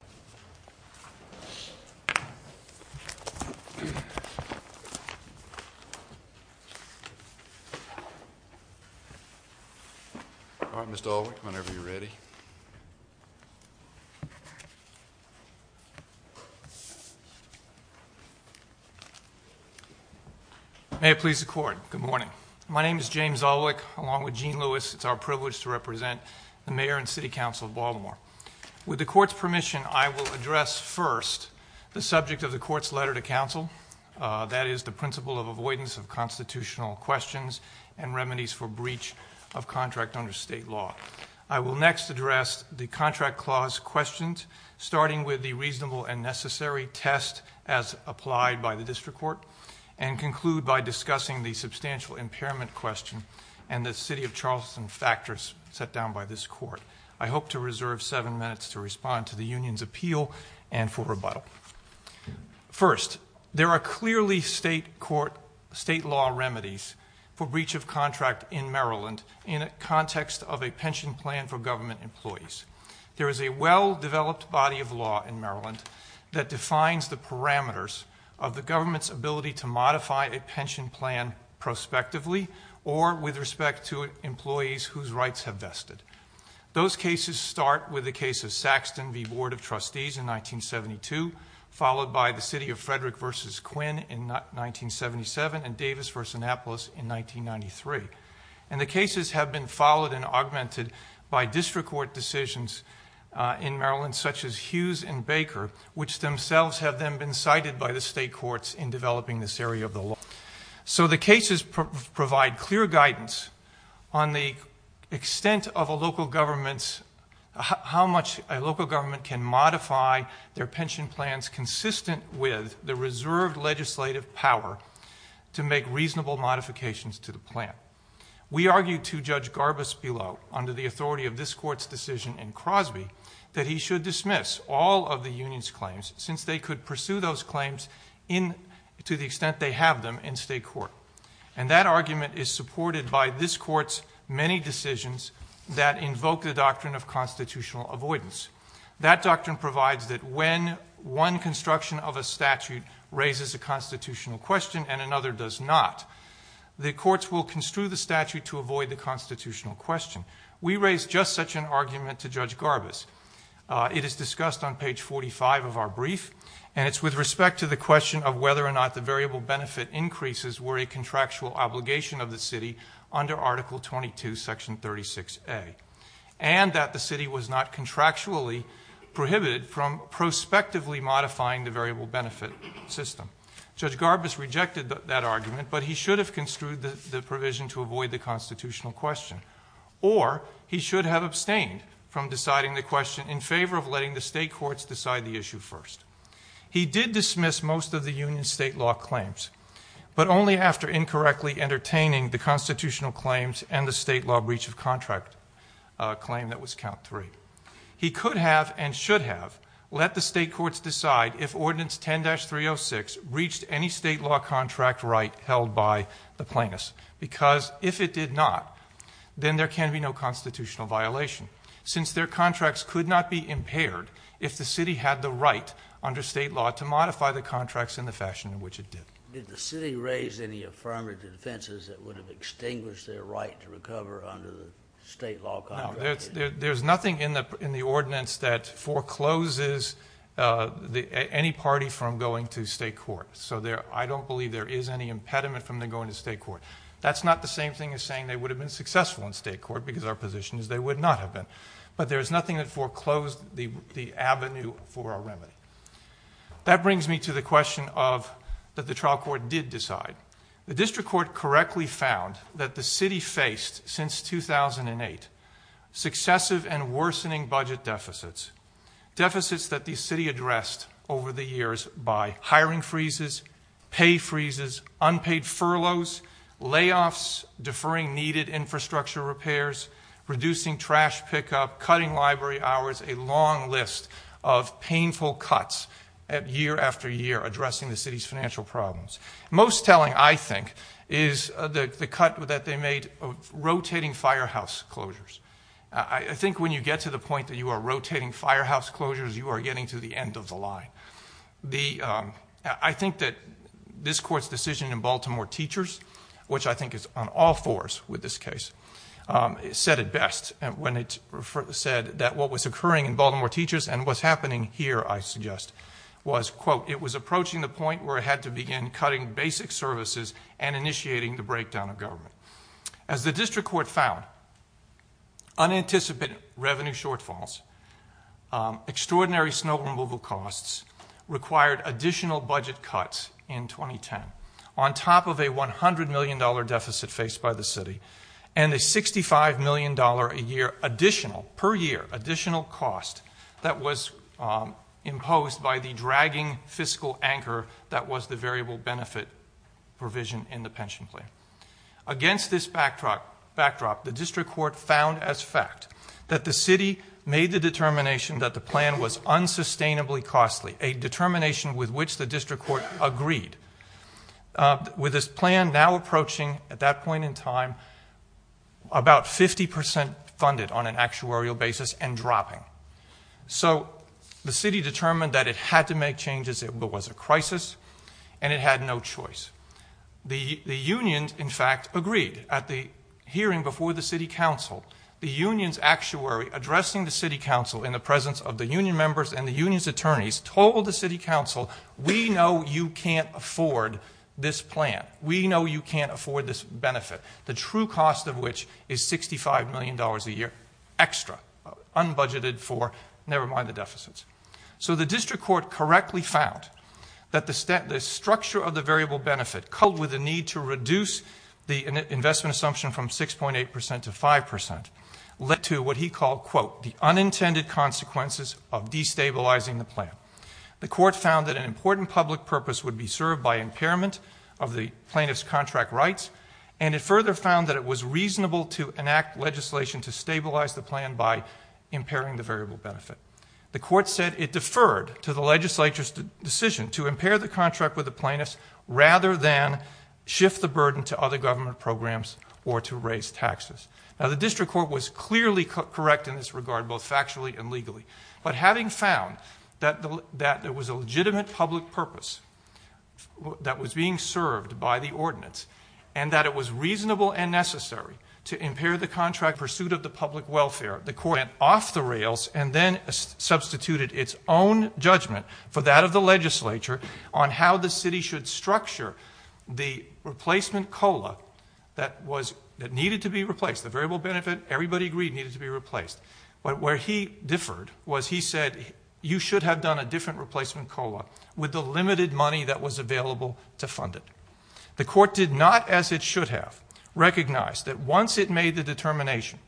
All right, Mr. Alwick, whenever you're ready. May it please the Court, good morning. My name is James Alwick, along with Gene Lewis. It's our privilege to represent the Mayor and City Council of Baltimore. With the Court's permission, I will address first the subject of the Court's letter to Council, that is the principle of avoidance of constitutional questions and remedies for breach of contract under state law. I will next address the contract clause questions, starting with the reasonable and necessary test as applied by the District Court, and conclude by discussing the substantial impairment question and the City of Charleston factors set down by this Court. I hope to reserve seven minutes to respond to the Union's appeal and for rebuttal. First, there are clearly state law remedies for breach of contract in Maryland in a context of a pension plan for government employees. There is a well-developed body of law in Maryland that defines the parameters of the government's ability to modify a pension plan or with respect to employees whose rights have vested. Those cases start with the case of Saxton v. Board of Trustees in 1972, followed by the City of Frederick v. Quinn in 1977 and Davis v. Annapolis in 1993. And the cases have been followed and augmented by District Court decisions in Maryland, such as Hughes and Baker, which themselves have then been cited by the state courts in developing this area of the law. So the cases provide clear guidance on the extent of a local government's – how much a local government can modify their pension plans consistent with the reserved legislative power to make reasonable modifications to the plan. We argue to Judge Garbus-Below, under the authority of this Court's decision in Crosby, that he should dismiss all of the union's claims since they could pursue those claims to the extent they have them in state court. And that argument is supported by this Court's many decisions that invoke the doctrine of constitutional avoidance. That doctrine provides that when one construction of a statute raises a constitutional question and another does not, the courts will construe the statute to avoid the constitutional question. We raise just such an argument to Judge Garbus. It is discussed on page 45 of our brief, and it's with respect to the question of whether or not the variable benefit increases were a contractual obligation of the City under Article 22, Section 36A, and that the City was not contractually prohibited from prospectively modifying the variable benefit system. Judge Garbus rejected that argument, but he should have construed the provision to avoid the constitutional question. Or he should have abstained from deciding the question in favor of letting the state courts decide the issue first. He did dismiss most of the union's state law claims, but only after incorrectly entertaining the constitutional claims and the state law breach of contract claim that was count three. He could have, and should have, let the state courts decide if Ordinance 10-306 reached any state law contract right held by the plaintiffs. Because if it did not, then there can be no constitutional violation, since their contracts could not be impaired if the city had the right under state law to modify the contracts in the fashion in which it did. Did the city raise any affirmative defenses that would have extinguished their right to recover under the state law contract? No, there's nothing in the ordinance that forecloses any party from going to state court. So I don't believe there is any impediment from them going to state court. That's not the same thing as saying they would have been successful in state court, because our position is they would not have been. But there's nothing that foreclosed the avenue for our remedy. That brings me to the question that the trial court did decide. The district court correctly found that the city faced, since 2008, successive and worsening budget deficits. Deficits that the city addressed over the years by hiring freezes, pay freezes, unpaid furloughs, layoffs, deferring needed infrastructure repairs, reducing trash pickup, cutting library hours, a long list of painful cuts year after year addressing the city's financial problems. Most telling, I think, is the cut that they made rotating firehouse closures. I think when you get to the point that you are rotating firehouse closures, you are getting to the end of the line. I think that this court's decision in Baltimore Teachers, which I think is on all fours with this case, said it best when it said that what was occurring in Baltimore Teachers and what's happening here, I suggest, was, quote, it was approaching the point where it had to begin cutting basic services and initiating the breakdown of government. As the district court found, unanticipated revenue shortfalls, extraordinary snow removal costs, required additional budget cuts in 2010 on top of a $100 million deficit faced by the city and a $65 million per year additional cost that was imposed by the dragging fiscal anchor that was the variable benefit provision in the pension plan. Against this backdrop, the district court found as fact that the city made the determination that the plan was unsustainably costly, a determination with which the district court agreed, with this plan now approaching, at that point in time, about 50 percent funded on an actuarial basis and dropping. So the city determined that it had to make changes. It was a crisis, and it had no choice. The unions, in fact, agreed. At the hearing before the city council, the union's actuary addressing the city council in the presence of the union members and the union's attorneys told the city council, we know you can't afford this plan. We know you can't afford this benefit, the true cost of which is $65 million a year extra, unbudgeted for, never mind the deficits. So the district court correctly found that the structure of the variable benefit, coupled with the need to reduce the investment assumption from 6.8 percent to 5 percent, led to what he called, quote, the unintended consequences of destabilizing the plan. The court found that an important public purpose would be served by impairment of the plaintiff's contract rights, and it further found that it was reasonable to enact legislation to stabilize the plan by impairing the variable benefit. The court said it deferred to the legislature's decision to impair the contract with the plaintiffs rather than shift the burden to other government programs or to raise taxes. Now, the district court was clearly correct in this regard, both factually and legally, but having found that there was a legitimate public purpose that was being served by the ordinance and that it was reasonable and necessary to impair the contract pursuit of the public welfare, the court went off the rails and then substituted its own judgment for that of the legislature on how the city should structure the replacement COLA that needed to be replaced. The variable benefit, everybody agreed, needed to be replaced. But where he differed was he said you should have done a different replacement COLA with the limited money that was available to fund it. The court did not, as it should have, recognize that once it made the determination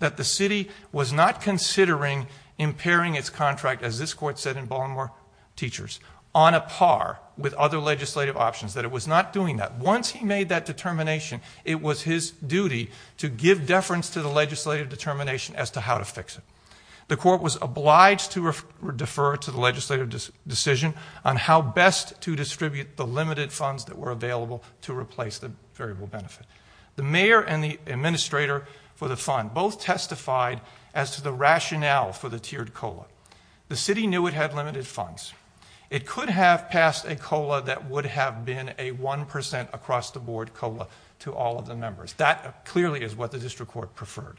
that the city was not considering impairing its contract, as this court said in Baltimore Teachers, on a par with other legislative options, that it was not doing that. Once he made that determination, it was his duty to give deference to the legislative determination as to how to fix it. The court was obliged to defer to the legislative decision on how best to distribute the limited funds that were available to replace the variable benefit. The mayor and the administrator for the fund both testified as to the rationale for the tiered COLA. The city knew it had limited funds. It could have passed a COLA that would have been a 1% across the board COLA to all of the members. That clearly is what the district court preferred.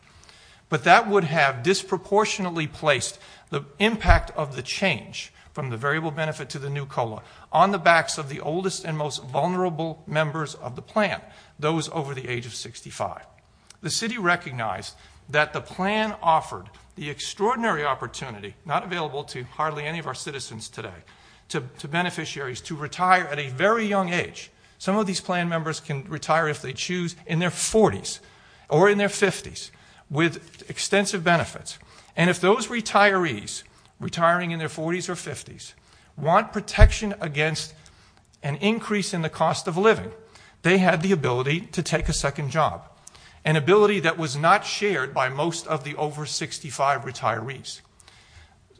But that would have disproportionately placed the impact of the change from the variable benefit to the new COLA on the backs of the oldest and most vulnerable members of the plan, those over the age of 65. The city recognized that the plan offered the extraordinary opportunity, not available to hardly any of our citizens today, to beneficiaries to retire at a very young age. Some of these plan members can retire if they choose in their 40s or in their 50s with extensive benefits. And if those retirees, retiring in their 40s or 50s, want protection against an increase in the cost of living, they have the ability to take a second job, an ability that was not shared by most of the over 65 retirees.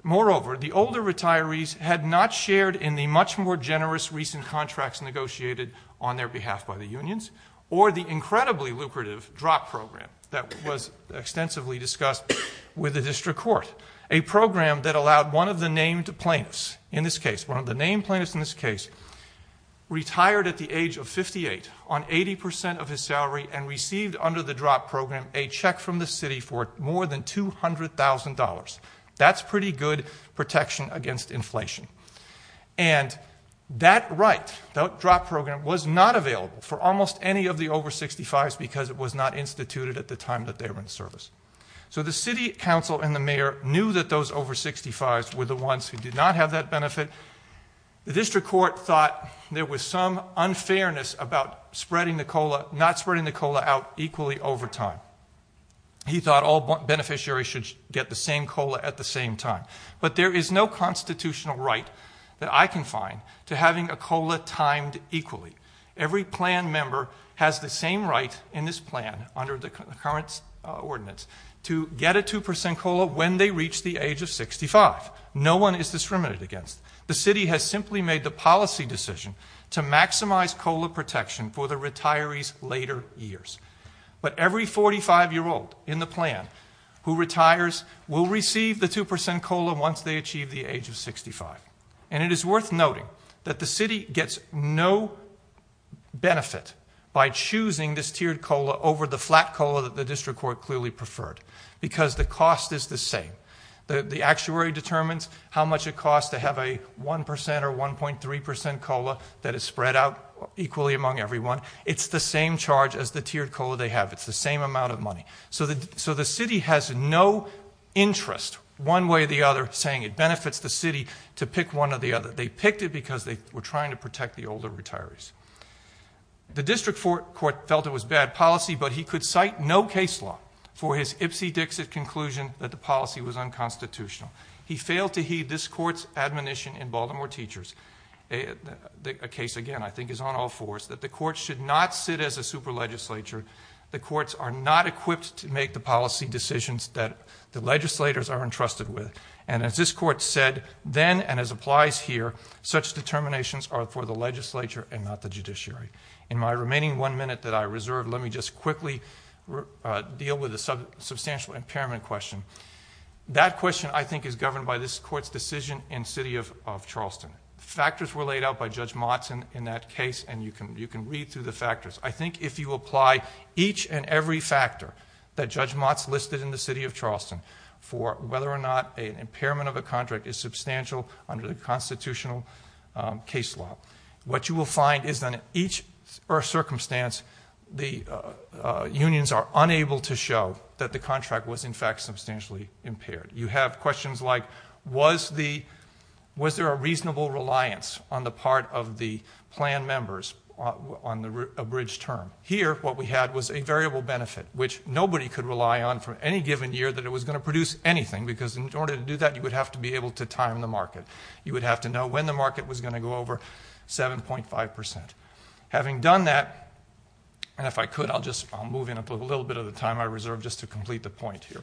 Moreover, the older retirees had not shared in the much more generous recent contracts negotiated on their behalf by the unions, or the incredibly lucrative drop program that was extensively discussed with the district court. A program that allowed one of the named plaintiffs in this case, one of the named plaintiffs in this case, retired at the age of 58 on 80% of his salary and received under the drop program a check from the city for more than $200,000. That's pretty good protection against inflation. And that right, that drop program, was not available for almost any of the over 65s because it was not instituted at the time that they were in service. So the city council and the mayor knew that those over 65s were the ones who did not have that benefit. The district court thought there was some unfairness about not spreading the COLA out equally over time. He thought all beneficiaries should get the same COLA at the same time. But there is no constitutional right that I can find to having a COLA timed equally. Every plan member has the same right in this plan under the current ordinance to get a 2% COLA when they reach the age of 65. No one is discriminated against. The city has simply made the policy decision to maximize COLA protection for the retirees' later years. But every 45-year-old in the plan who retires will receive the 2% COLA once they achieve the age of 65. And it is worth noting that the city gets no benefit by choosing this tiered COLA over the flat COLA that the district court clearly preferred. Because the cost is the same. The actuary determines how much it costs to have a 1% or 1.3% COLA that is spread out equally among everyone. It's the same charge as the tiered COLA they have. It's the same amount of money. So the city has no interest, one way or the other, saying it benefits the city to pick one or the other. They picked it because they were trying to protect the older retirees. The district court felt it was bad policy, but he could cite no case law for his ipsy-dixit conclusion that the policy was unconstitutional. He failed to heed this court's admonition in Baltimore Teachers. A case, again, I think is on all fours, that the courts should not sit as a super legislature. The courts are not equipped to make the policy decisions that the legislators are entrusted with. And as this court said, then, and as applies here, such determinations are for the legislature and not the judiciary. In my remaining one minute that I reserve, let me just quickly deal with a substantial impairment question. That question, I think, is governed by this court's decision in City of Charleston. Factors were laid out by Judge Motzen in that case, and you can read through the factors. I think if you apply each and every factor that Judge Motzen listed in the City of Charleston for whether or not an impairment of a contract is substantial under the constitutional case law, what you will find is that in each circumstance, the unions are unable to show that the contract was, in fact, substantially impaired. You have questions like, was there a reasonable reliance on the part of the plan members on the abridged term? Here, what we had was a variable benefit, which nobody could rely on for any given year that it was going to produce anything, because in order to do that, you would have to be able to time the market. You would have to know when the market was going to go over 7.5%. Having done that, and if I could, I'll just move in a little bit of the time I reserve just to complete the point here.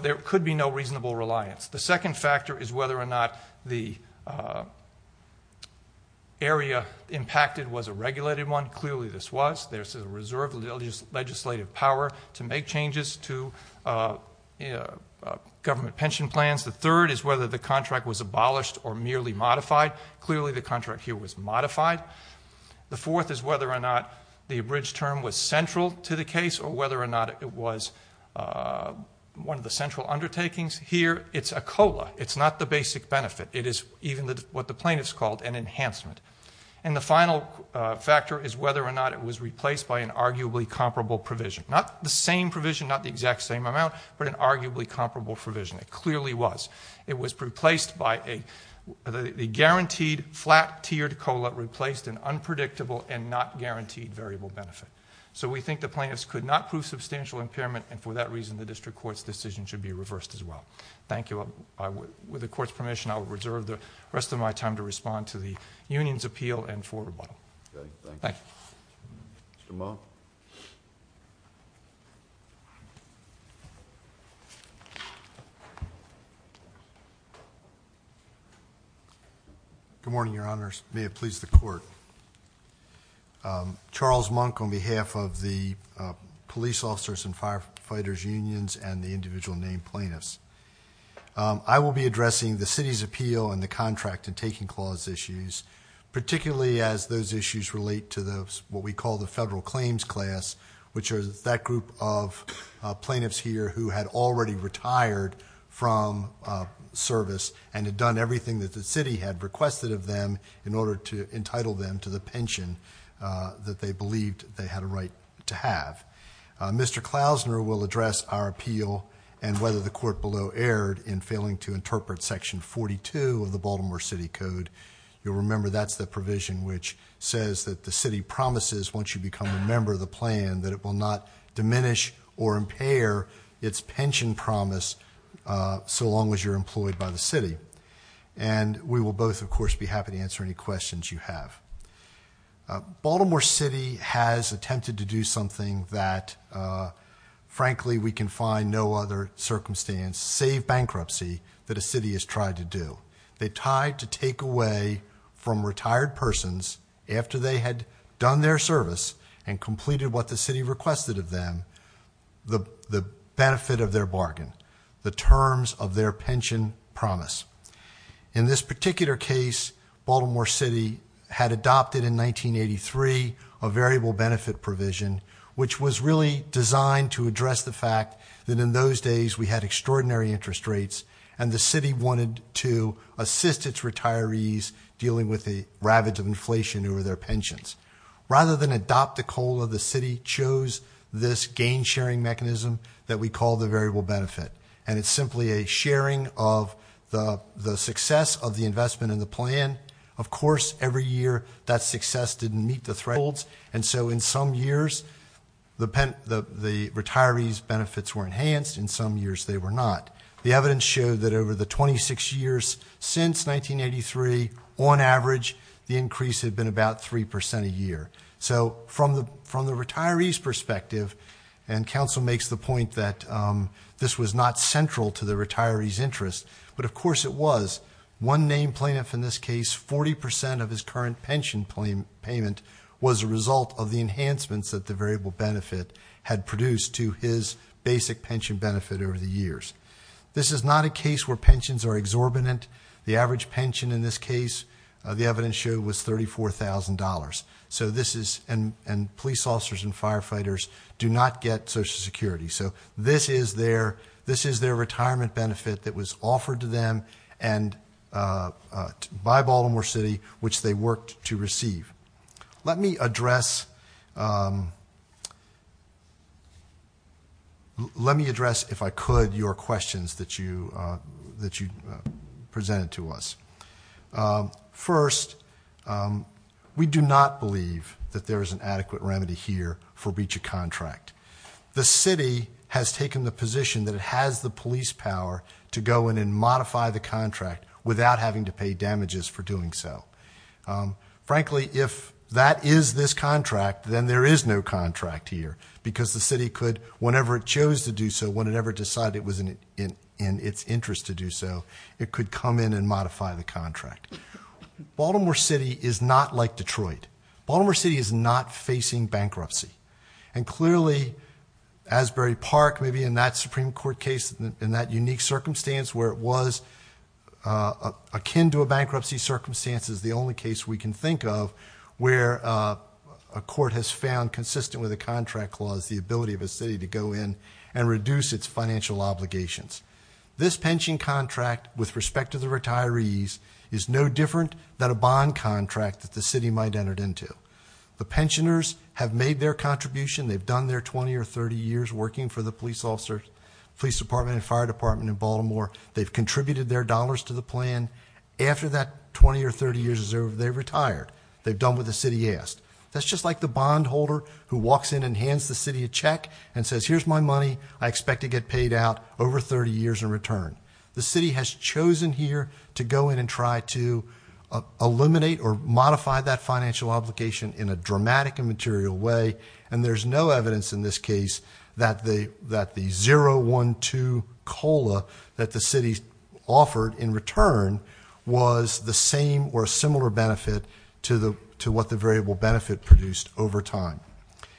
There could be no reasonable reliance. The second factor is whether or not the area impacted was a regulated one. Clearly, this was. There's a reserve of legislative power to make changes to government pension plans. The third is whether the contract was abolished or merely modified. Clearly, the contract here was modified. The fourth is whether or not the abridged term was central to the case or whether or not it was one of the central undertakings. Here, it's a COLA. It's not the basic benefit. It is even what the plaintiffs called an enhancement. And the final factor is whether or not it was replaced by an arguably comparable provision. Not the same provision, not the exact same amount, but an arguably comparable provision. It clearly was. It was replaced by a guaranteed flat-tiered COLA replaced an unpredictable and not guaranteed variable benefit. We think the plaintiffs could not prove substantial impairment, and for that reason, the district court's decision should be reversed as well. Thank you. With the court's permission, I will reserve the rest of my time to respond to the union's appeal and for rebuttal. Thank you. Mr. Monk. Good morning, Your Honors. May it please the court. Charles Monk on behalf of the police officers and firefighters unions and the individual named plaintiffs. I will be addressing the city's appeal and the contract and taking clause issues, particularly as those issues relate to what we call the federal claims class, which are that group of plaintiffs here who had already retired from service and had done everything that the city had requested of them in order to entitle them to the pension that they believed they had a right to have. Mr. Klausner will address our appeal and whether the court below erred in failing to interpret Section 42 of the Baltimore City Code. You'll remember that's the provision which says that the city promises, once you become a member of the plan, that it will not diminish or impair its pension promise so long as you're employed by the city. And we will both, of course, be happy to answer any questions you have. Baltimore City has attempted to do something that, frankly, we can find no other circumstance, save bankruptcy, that a city has tried to do. They tried to take away from retired persons, after they had done their service and completed what the city requested of them, the benefit of their bargain, the terms of their pension promise. In this particular case, Baltimore City had adopted in 1983 a variable benefit provision, which was really designed to address the fact that in those days we had extraordinary interest rates and the city wanted to assist its retirees dealing with the ravage of inflation over their pensions. Rather than adopt the COLA, the city chose this gain-sharing mechanism that we call the variable benefit, and it's simply a sharing of the success of the investment in the plan. Of course, every year that success didn't meet the thresholds, and so in some years the retirees' benefits were enhanced. In some years they were not. The evidence showed that over the 26 years since 1983, on average, the increase had been about 3% a year. So from the retirees' perspective, and counsel makes the point that this was not central to the retirees' interest, but of course it was. One named plaintiff in this case, 40% of his current pension payment was a result of the enhancements that the variable benefit had produced to his basic pension benefit over the years. This is not a case where pensions are exorbitant. The average pension in this case, the evidence showed, was $34,000. And police officers and firefighters do not get Social Security. So this is their retirement benefit that was offered to them by Baltimore City, which they worked to receive. Let me address, if I could, your questions that you presented to us. First, we do not believe that there is an adequate remedy here for breach of contract. The city has taken the position that it has the police power to go in and modify the contract without having to pay damages for doing so. Frankly, if that is this contract, then there is no contract here, because the city could, whenever it chose to do so, whenever it decided it was in its interest to do so, it could come in and modify the contract. Baltimore City is not like Detroit. Baltimore City is not facing bankruptcy. And clearly, Asbury Park, maybe in that Supreme Court case, in that unique circumstance where it was akin to a bankruptcy circumstance, is the only case we can think of where a court has found, consistent with the contract clause, the ability of a city to go in and reduce its financial obligations. This pension contract, with respect to the retirees, is no different than a bond contract that the city might have entered into. The pensioners have made their contribution. They've done their 20 or 30 years working for the police department and fire department in Baltimore. They've contributed their dollars to the plan. After that 20 or 30 years is over, they've retired. They've done what the city asked. That's just like the bondholder who walks in and hands the city a check and says, here's my money, I expect to get paid out over 30 years in return. The city has chosen here to go in and try to eliminate or modify that financial obligation in a dramatic and material way, and there's no evidence in this case that the 0-1-2 COLA that the city offered in return was the same or a similar benefit to what the variable benefit produced over time.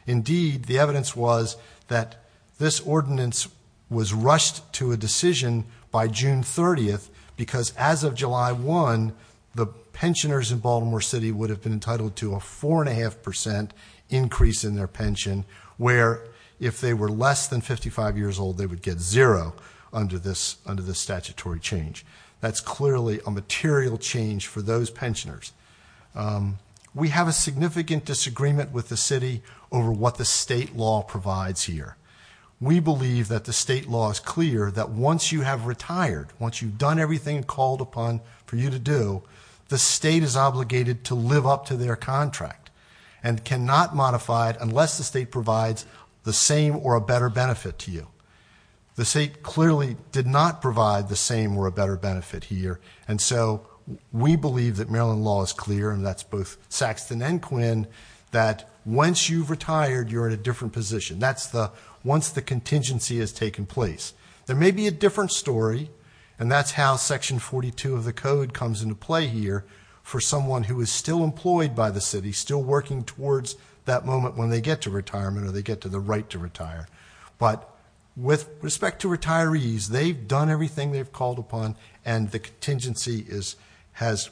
Indeed, the evidence was that this ordinance was rushed to a decision by June 30, because as of July 1, the pensioners in Baltimore City would have been entitled to a 4.5% increase in their pension, where if they were less than 55 years old, they would get zero under this statutory change. That's clearly a material change for those pensioners. We have a significant disagreement with the city over what the state law provides here. We believe that the state law is clear that once you have retired, once you've done everything called upon for you to do, the state is obligated to live up to their contract and cannot modify it unless the state provides the same or a better benefit to you. The state clearly did not provide the same or a better benefit here, and so we believe that Maryland law is clear, and that's both Saxton and Quinn, that once you've retired, you're in a different position. That's once the contingency has taken place. There may be a different story, and that's how Section 42 of the code comes into play here for someone who is still employed by the city, still working towards that moment when they get to retirement or they get to the right to retire. But with respect to retirees, they've done everything they've called upon, and the contingency has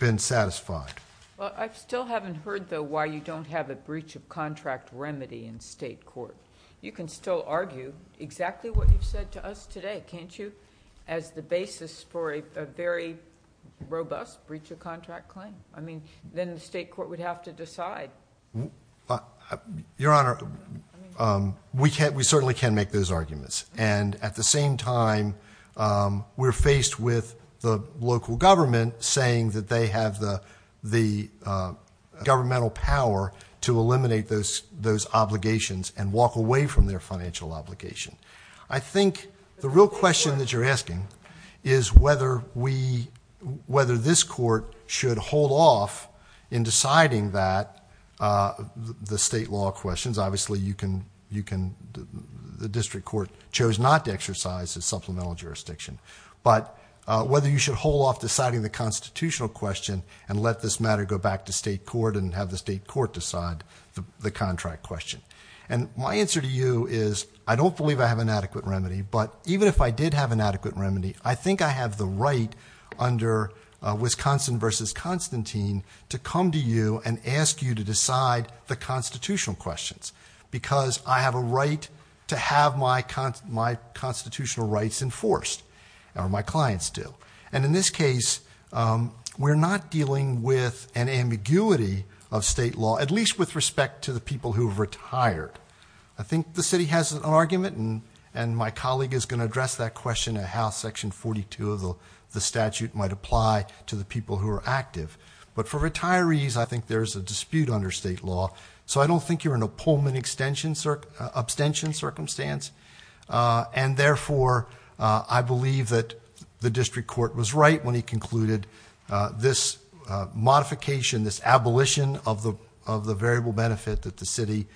been satisfied. Well, I still haven't heard, though, why you don't have a breach of contract remedy in state court. You can still argue exactly what you've said to us today, can't you, as the basis for a very robust breach of contract claim? I mean, then the state court would have to decide. Your Honor, we certainly can make those arguments, and at the same time we're faced with the local government saying that they have the governmental power to eliminate those obligations and walk away from their financial obligation. I think the real question that you're asking is whether this court should hold off in deciding the state law questions. Obviously, the district court chose not to exercise the supplemental jurisdiction. But whether you should hold off deciding the constitutional question and let this matter go back to state court and have the state court decide the contract question. And my answer to you is I don't believe I have an adequate remedy, but even if I did have an adequate remedy, I think I have the right under Wisconsin v. Constantine to come to you and ask you to decide the constitutional questions because I have a right to have my constitutional rights enforced, or my clients do. And in this case, we're not dealing with an ambiguity of state law, at least with respect to the people who have retired. I think the city has an argument, and my colleague is going to address that question of how Section 42 of the statute might apply to the people who are active. But for retirees, I think there's a dispute under state law. So I don't think you're in a Pullman abstention circumstance. And therefore, I believe that the district court was right when he concluded this modification, this abolition of the variable benefit that the city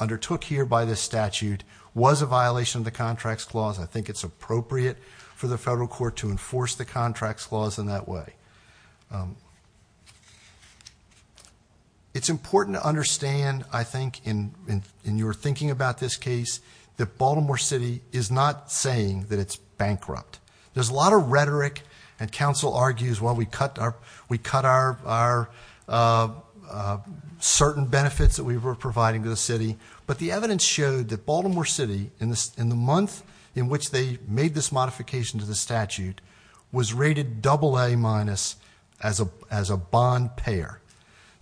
undertook here by this statute was a violation of the Contracts Clause. I think it's appropriate for the federal court to enforce the Contracts Clause in that way. It's important to understand, I think, in your thinking about this case, that Baltimore City is not saying that it's bankrupt. There's a lot of rhetoric, and counsel argues, well, we cut our certain benefits that we were providing to the city, but the evidence showed that Baltimore City, in the month in which they made this modification to the statute, was rated AA- as a bond payer.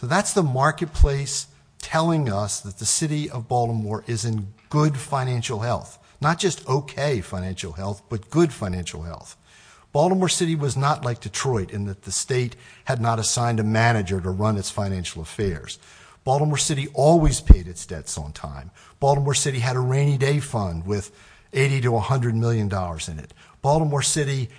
So that's the marketplace telling us that the city of Baltimore is in good financial health. Not just okay financial health, but good financial health. Baltimore City was not like Detroit in that the state had not assigned a manager to run its financial affairs. Baltimore City always paid its debts on time. Baltimore City had a rainy day fund with $80 to $100 million in it. Baltimore City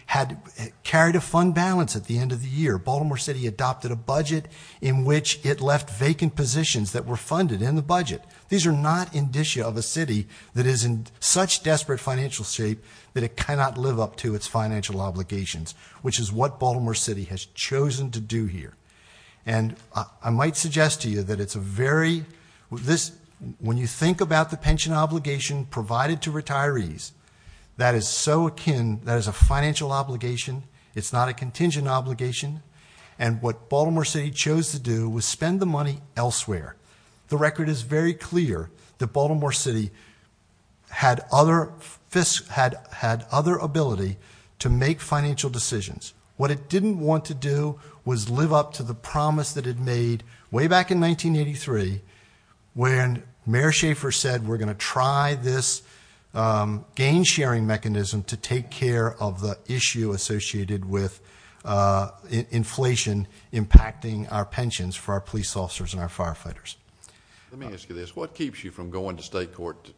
carried a fund balance at the end of the year. Baltimore City adopted a budget in which it left vacant positions that were funded in the budget. These are not indicia of a city that is in such desperate financial shape that it cannot live up to its financial obligations, which is what Baltimore City has chosen to do here. And I might suggest to you that it's a very... When you think about the pension obligation provided to retirees, that is so akin... that is a financial obligation. It's not a contingent obligation. And what Baltimore City chose to do was spend the money elsewhere. The record is very clear that Baltimore City had other... had other ability to make financial decisions. What it didn't want to do was live up to the promise that it made way back in 1983, when Mayor Schaefer said, we're going to try this gain-sharing mechanism to take care of the issue associated with inflation impacting our pensions for our police officers and our firefighters. Let me ask you this. What keeps you from going to state court to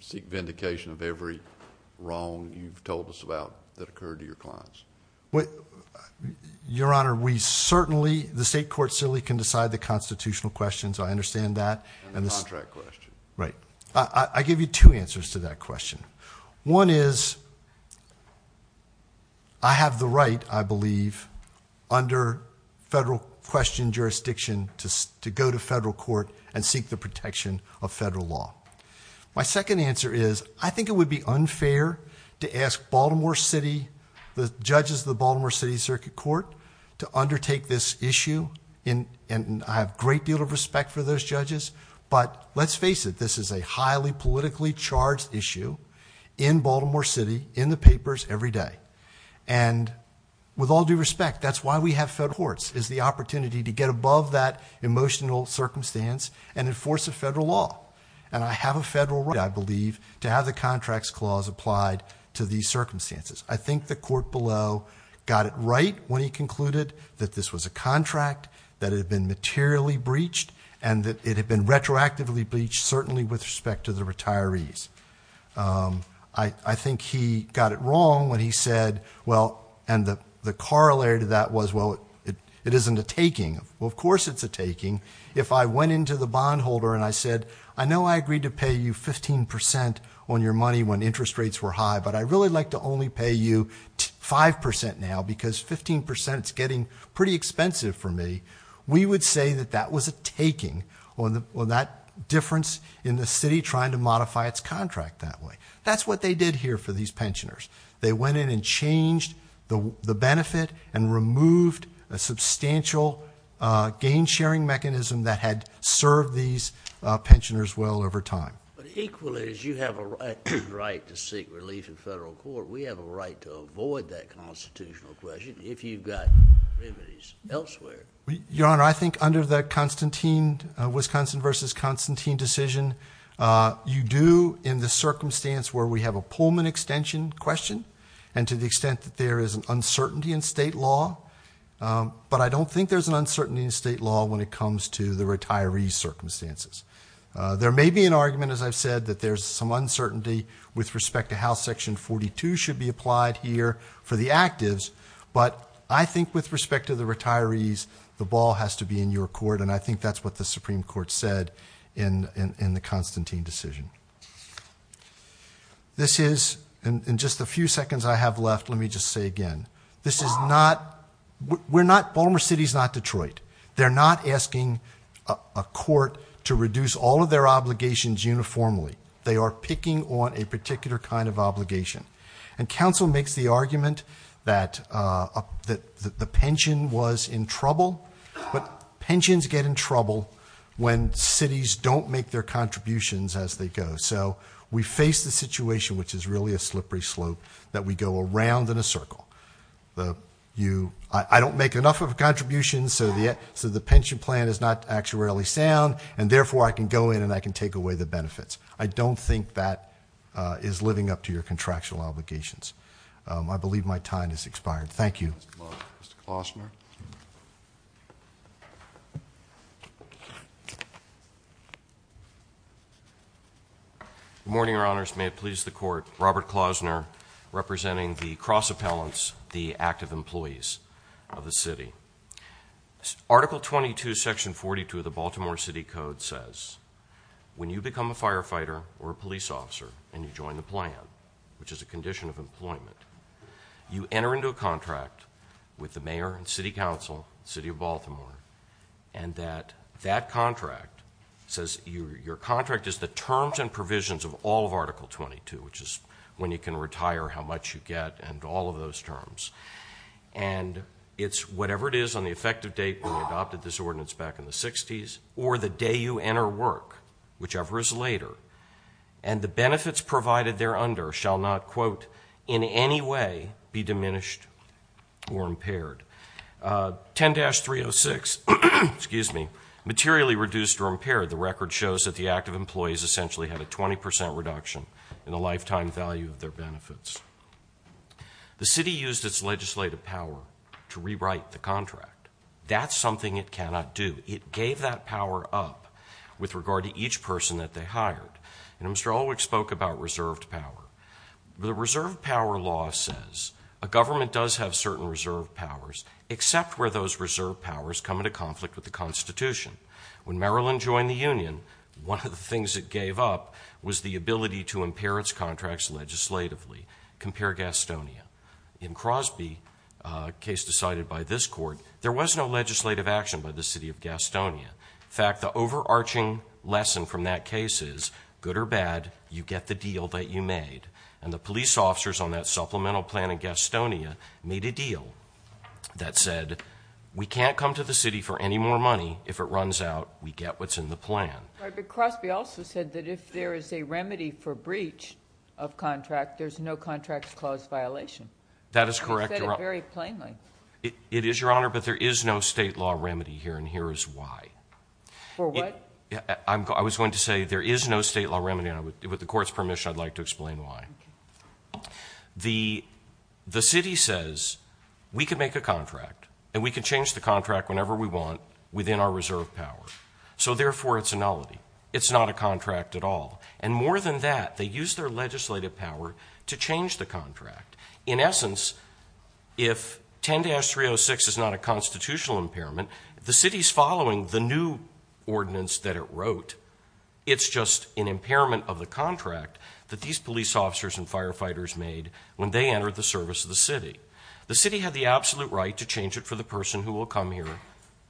seek vindication of every wrong you've told us about that occurred to your clients? Your Honor, we certainly... The state court certainly can decide the constitutional questions. I understand that. And the contract question. Right. I give you two answers to that question. One is I have the right, I believe, under federal question jurisdiction to go to federal court and seek the protection of federal law. My second answer is I think it would be unfair to ask Baltimore City, the judges of the Baltimore City Circuit Court, to undertake this issue. And I have a great deal of respect for those judges. But let's face it, this is a highly politically charged issue in Baltimore City in the papers every day. And with all due respect, that's why we have federal courts is the opportunity to get above that emotional circumstance and enforce a federal law. And I have a federal right, I believe, to have the contracts clause applied to these circumstances. I think the court below got it right when he concluded that this was a contract that had been materially breached and that it had been retroactively breached, certainly with respect to the retirees. I think he got it wrong when he said, well, and the corollary to that was, well, it isn't a taking. Well, of course it's a taking. If I went into the bondholder and I said, I know I agreed to pay you 15% on your money when interest rates were high, but I'd really like to only pay you 5% now because 15% is getting pretty expensive for me, we would say that that was a taking or that difference in the city trying to modify its contract that way. That's what they did here for these pensioners. They went in and changed the benefit and removed a substantial gain-sharing mechanism that had served these pensioners well over time. But equally, as you have a right to seek relief in federal court, we have a right to avoid that constitutional question if you've got remedies elsewhere. Your Honor, I think under the Wisconsin v. Constantine decision, you do in the circumstance where we have a Pullman extension question and to the extent that there is an uncertainty in state law, but I don't think there's an uncertainty in state law when it comes to the retirees' circumstances. There may be an argument, as I've said, that there's some uncertainty with respect to how Section 42 should be applied here for the actives, but I think with respect to the retirees, the ball has to be in your court, and I think that's what the Supreme Court said in the Constantine decision. This is... In just the few seconds I have left, let me just say again. This is not... We're not... Baltimore City's not Detroit. They're not asking a court to reduce all of their obligations uniformly. They are picking on a particular kind of obligation. And counsel makes the argument that the pension was in trouble, but pensions get in trouble when cities don't make their contributions as they go. So we face the situation, which is really a slippery slope, that we go around in a circle. I don't make enough of a contribution, so the pension plan is not actually sound, and therefore I can go in and I can take away the benefits. I don't think that is living up to your contractual obligations. I believe my time has expired. Thank you. Mr. Klausner. Good morning, Your Honors. May it please the Court. Robert Klausner, representing the cross-appellants, the active employees of the city. Article 22, Section 42 of the Baltimore City Code says when you become a firefighter or a police officer and you join the plan, which is a condition of employment, you enter into a contract with the mayor and city council, the city of Baltimore, and that that contract says... Your contract is the terms and provisions of all of Article 22, which is when you can retire, how much you get, and all of those terms. And it's whatever it is on the effective date when you adopted this ordinance back in the 60s or the day you enter work, whichever is later, and the benefits provided thereunder shall not, quote, in any way be diminished or impaired. 10-306, excuse me, materially reduced or impaired, the record shows that the active employees essentially had a 20% reduction in the lifetime value of their benefits. The city used its legislative power to rewrite the contract. That's something it cannot do. It gave that power up with regard to each person that they hired. And Mr. Ulrich spoke about reserved power. The reserved power law says a government does have certain reserved powers except where those reserved powers come into conflict with the Constitution. When Maryland joined the union, one of the things it gave up was the ability to impair its contracts legislatively. Compare Gastonia. In Crosby, a case decided by this court, there was no legislative action by the city of Gastonia. In fact, the overarching lesson from that case is, good or bad, you get the deal that you made. And the police officers on that supplemental plan in Gastonia made a deal that said, we can't come to the city for any more money. If it runs out, we get what's in the plan. But Crosby also said that if there is a remedy for breach of contract, there's no contract clause violation. That is correct, Your Honor. He said it very plainly. It is, Your Honor, but there is no state law remedy here, and here is why. For what? I was going to say, there is no state law remedy, and with the court's permission, I'd like to explain why. The city says, we can make a contract, and we can change the contract whenever we want within our reserved power. So therefore, it's a nullity. It's not a contract at all. And more than that, they use their legislative power to change the contract. In essence, if 10-306 is not a constitutional impairment, the city's following the new ordinance that it wrote. It's just an impairment of the contract that these police officers and firefighters made when they entered the service of the city. The city had the absolute right to change it for the person who will come here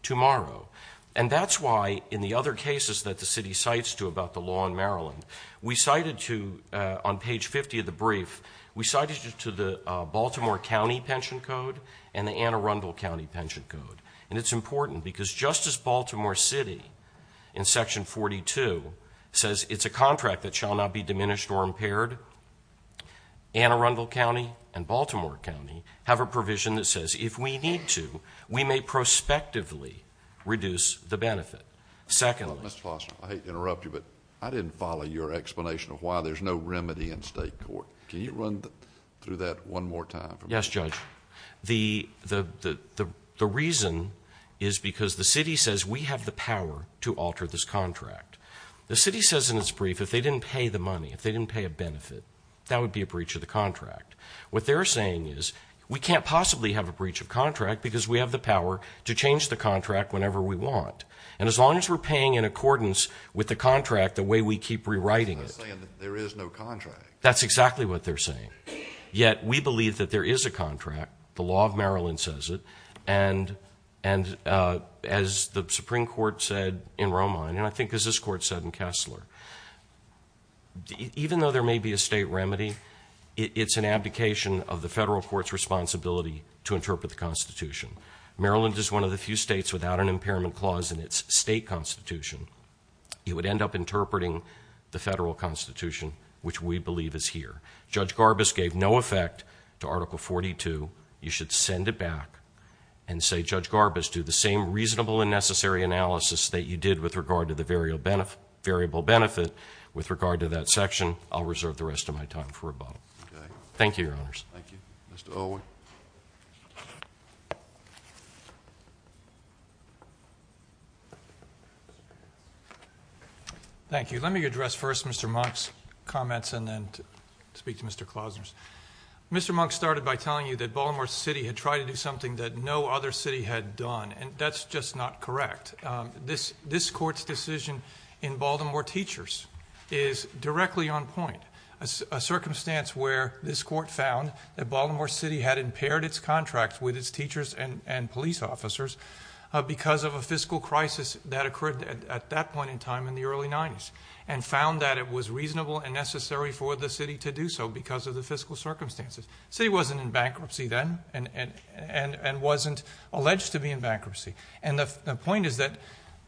tomorrow. And that's why, in the other cases that the city cites to about the law in Maryland, we cited to, on page 50 of the brief, we cited it to the Baltimore County Pension Code and the Anne Arundel County Pension Code. And it's important, because just as Baltimore City, in Section 42, says it's a contract that shall not be diminished or impaired, Anne Arundel County and Baltimore County have a provision that says, if we need to, we may prospectively reduce the benefit. Secondly... Mr. Foster, I hate to interrupt you, but I didn't follow your explanation of why there's no remedy in state court. Can you run through that one more time? Yes, Judge. The reason is because the city says we have the power to alter this contract. The city says in its brief, if they didn't pay the money, if they didn't pay a benefit, that would be a breach of the contract. What they're saying is, we can't possibly have a breach of contract because we have the power to change the contract whenever we want. And as long as we're paying in accordance with the contract, the way we keep rewriting it... They're not saying that there is no contract. That's exactly what they're saying. Yet, we believe that there is a contract. The law of Maryland says it. And as the Supreme Court said in Romine, and I think as this Court said in Kessler, even though there may be a state remedy, it's an abdication of the federal court's responsibility to interpret the Constitution. Maryland is one of the few states without an impairment clause in its state Constitution. It would end up interpreting the federal Constitution, which we believe is here. Judge Garbus gave no effect to Article 42. You should send it back and say, Judge Garbus, do the same reasonable and necessary analysis that you did with regard to the variable benefit with regard to that section. I'll reserve the rest of my time for rebuttal. Thank you, Your Honors. Thank you. Mr. Alwy. Thank you. Let me address first Mr. Monk's comments and then speak to Mr. Klausner's. Mr. Monk started by telling you that Baltimore City had tried to do something that no other city had done, and that's just not correct. This Court's decision in Baltimore Teachers is directly on point. A circumstance where this Court found that Baltimore City had impaired its contracts with its teachers and police officers because of a fiscal crisis that occurred at that point in time in the early 90s, and found that it was reasonable and necessary for the city to do so because of the fiscal circumstances. The city wasn't in bankruptcy then and wasn't alleged to be in bankruptcy. And the point is that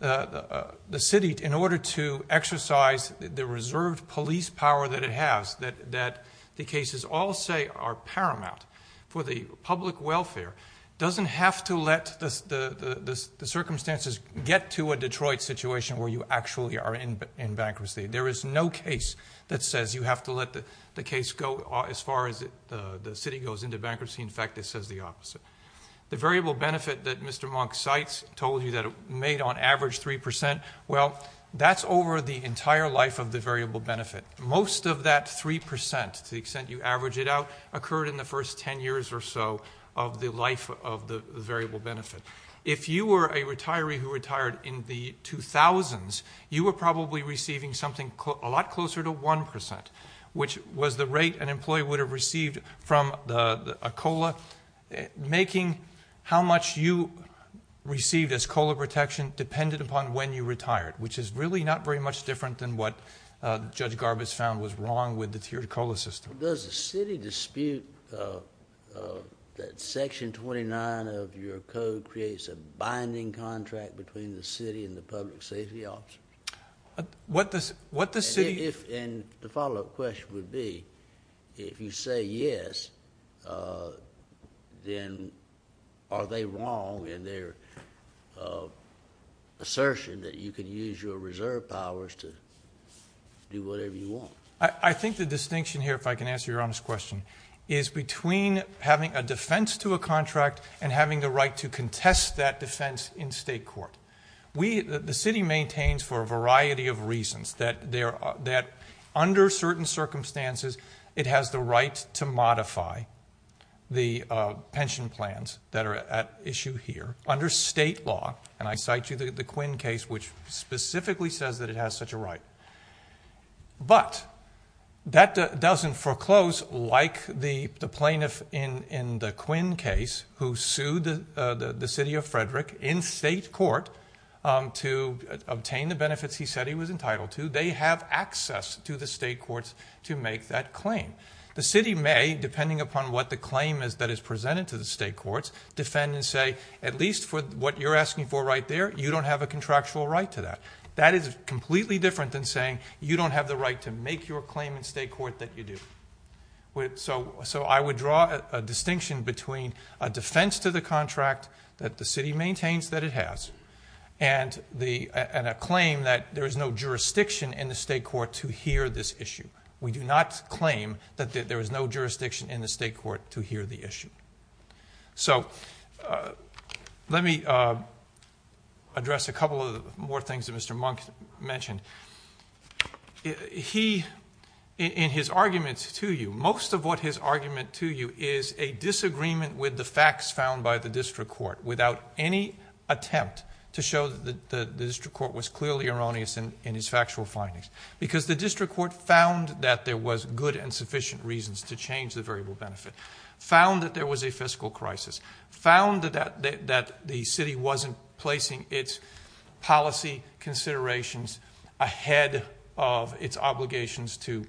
the city, in order to exercise the reserved police power that it has, that the cases all say are paramount for the public welfare, doesn't have to let the circumstances get to a Detroit situation where you actually are in bankruptcy. There is no case that says you have to let the case go as far as the city goes into bankruptcy. In fact, it says the opposite. The variable benefit that Mr. Monk cites, told you that it made on average 3%, well, that's over the entire life of the variable benefit. Most of that 3%, to the extent you average it out, occurred in the first 10 years or so of the life of the variable benefit. If you were a retiree who retired in the 2000s, you were probably receiving something a lot closer to 1%, which was the rate an employee would have received from a COLA, making how much you received as COLA protection dependent upon when you retired, which is really not very much different than what Judge Garbus found was wrong with the tiered COLA system. Does the city dispute that Section 29 of your code creates a binding contract between the city and the public safety officers? What the city... And the follow-up question would be, if you say yes, then are they wrong in their assertion that you can use your reserve powers to do whatever you want? I think the distinction here, if I can answer your honest question, is between having a defense to a contract and having the right to contest that defense in state court. The city maintains for a variety of reasons that under certain circumstances, it has the right to modify the pension plans that are at issue here under state law, and I cite you the Quinn case, which specifically says that it has such a right. But that doesn't foreclose, like the plaintiff in the Quinn case who sued the city of Frederick in state court to obtain the benefits he said he was entitled to, they have access to the state courts to make that claim. The city may, depending upon what the claim is that is presented to the state courts, defend and say, at least for what you're asking for right there, you don't have a contractual right to that. That is completely different than saying you don't have the right to make your claim in state court that you do. So I would draw a distinction between a defense to the contract that the city maintains that it has and a claim that there is no jurisdiction in the state court to hear this issue. to hear the issue. So let me address a couple of more things that Mr. Monk mentioned. He, in his arguments to you, most of what his argument to you is a disagreement with the facts found by the district court without any attempt to show that the district court was clearly erroneous in his factual findings. Because the district court found that there was good and sufficient reasons to change the variable benefit, found that there was a fiscal crisis, found that the city wasn't placing its policy considerations ahead of its obligations to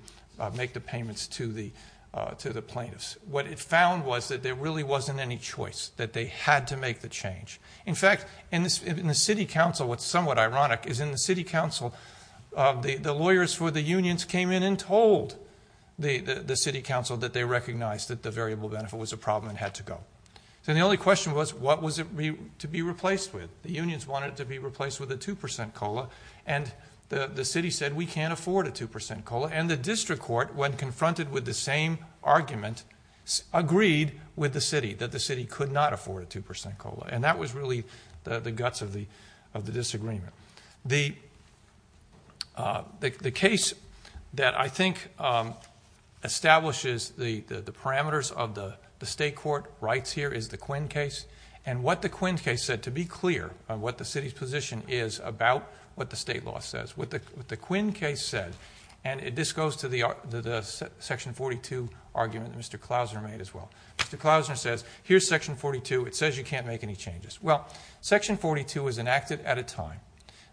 make the payments to the plaintiffs. What it found was that there really wasn't any choice, that they had to make the change. In fact, in the city council, what's somewhat ironic, is in the city council, the lawyers for the unions came in and told the city council that they recognized that the variable benefit was a problem and had to go. And the only question was, what was it to be replaced with? The unions wanted it to be replaced with a 2% COLA, and the city said, we can't afford a 2% COLA. And the district court, when confronted with the same argument, agreed with the city, that the city could not afford a 2% COLA. And that was really the guts of the disagreement. The case that I think establishes the parameters of the state court rights here is the Quinn case. And what the Quinn case said, to be clear, on what the city's position is about what the state law says, what the Quinn case said, and this goes to the Section 42 argument that Mr. Klausner made as well. Mr. Klausner says, here's Section 42. It says you can't make any changes. Well, Section 42 was enacted at a time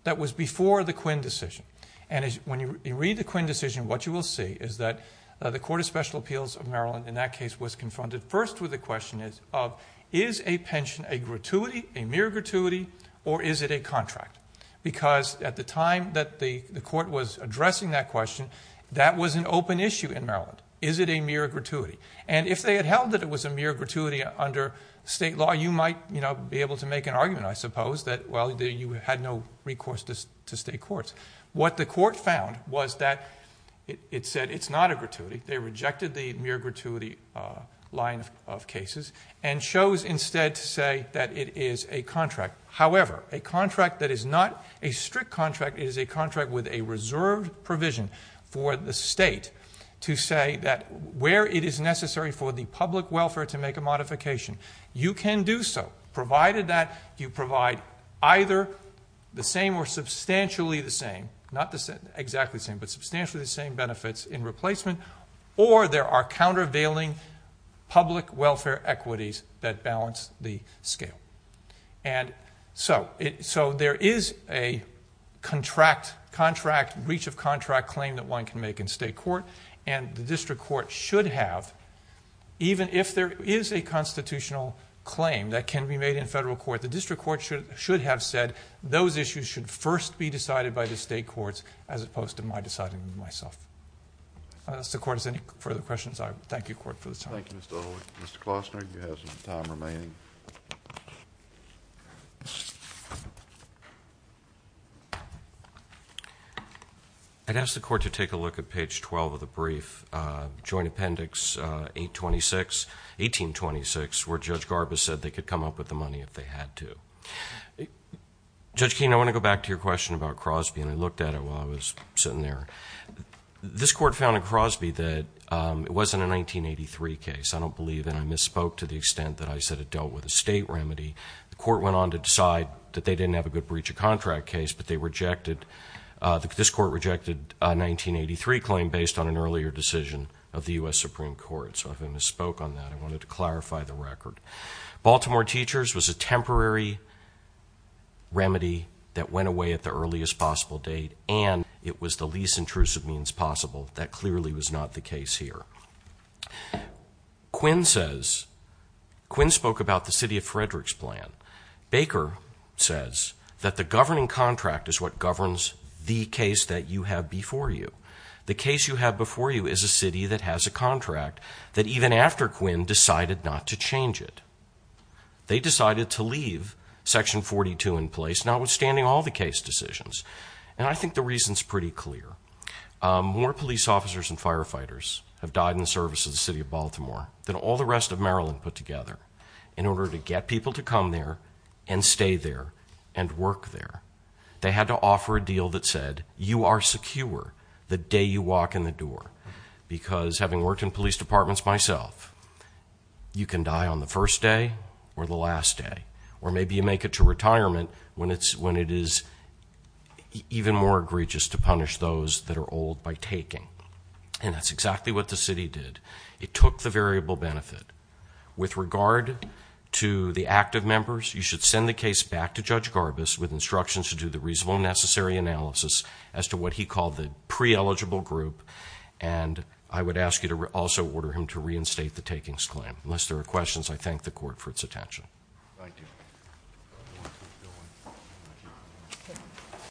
that was before the Quinn decision. And when you read the Quinn decision, what you will see is that the Court of Special Appeals of Maryland, in that case, was confronted first with the question of, is a pension a gratuity, a mere gratuity, or is it a contract? Because at the time that the court was addressing that question, that was an open issue in Maryland. Is it a mere gratuity? And if they had held that it was a mere gratuity under state law, you might be able to make an argument, I suppose, that, well, you had no recourse to state courts. What the court found was that it said it's not a gratuity. They rejected the mere gratuity line of cases and chose instead to say that it is a contract. However, a contract that is not a strict contract is a contract with a reserved provision for the state to say that where it is necessary for the public welfare to make a modification, you can do so, provided that you provide either the same or substantially the same, not exactly the same, but substantially the same benefits in replacement, or there are countervailing public welfare equities that balance the scale. And so there is a contract, reach of contract claim that one can make in state court, and the district court should have, even if there is a constitutional claim that can be made in federal court, the district court should have said those issues should first be decided by the state courts as opposed to my deciding them myself. If the court has any further questions, I thank you, court, for the time. Thank you, Mr. Olick. Mr. Klosner, you have some time remaining. I'd ask the court to take a look at page 12 of the brief, Joint Appendix 1826, where Judge Garbus said they could come up with the money if they had to. Judge Keene, I want to go back to your question about Crosby, and I looked at it while I was sitting there. This court found in Crosby that it wasn't a 1983 case. I don't believe, and I misspoke to the extent that I said it dealt with a state remedy. The court went on to decide that they didn't have a good breach of contract case, but this court rejected a 1983 claim based on an earlier decision of the U.S. Supreme Court. So I've been misspoke on that. I wanted to clarify the record. Baltimore Teachers was a temporary remedy that went away at the earliest possible date, and it was the least intrusive means possible. That clearly was not the case here. Quinn says... Quinn spoke about the City of Frederick's plan. Baker says that the governing contract is what governs the case that you have before you. The case you have before you is a city that has a contract that even after Quinn decided not to change it. They decided to leave Section 42 in place, notwithstanding all the case decisions. And I think the reason's pretty clear. More police officers and firefighters have died in the service of the City of Baltimore than all the rest of Maryland put together in order to get people to come there and stay there and work there. They had to offer a deal that said, you are secure the day you walk in the door. Because having worked in police departments myself, you can die on the first day or the last day. Or maybe you make it to retirement when it is even more egregious to punish those that are old by taking. And that's exactly what the city did. It took the variable benefit. With regard to the active members, you should send the case back to Judge Garbus with instructions to do the reasonable and necessary analysis as to what he called the pre-eligible group. And I would ask you to also order him to reinstate the takings claim. Unless there are questions, I thank the Court for its attention.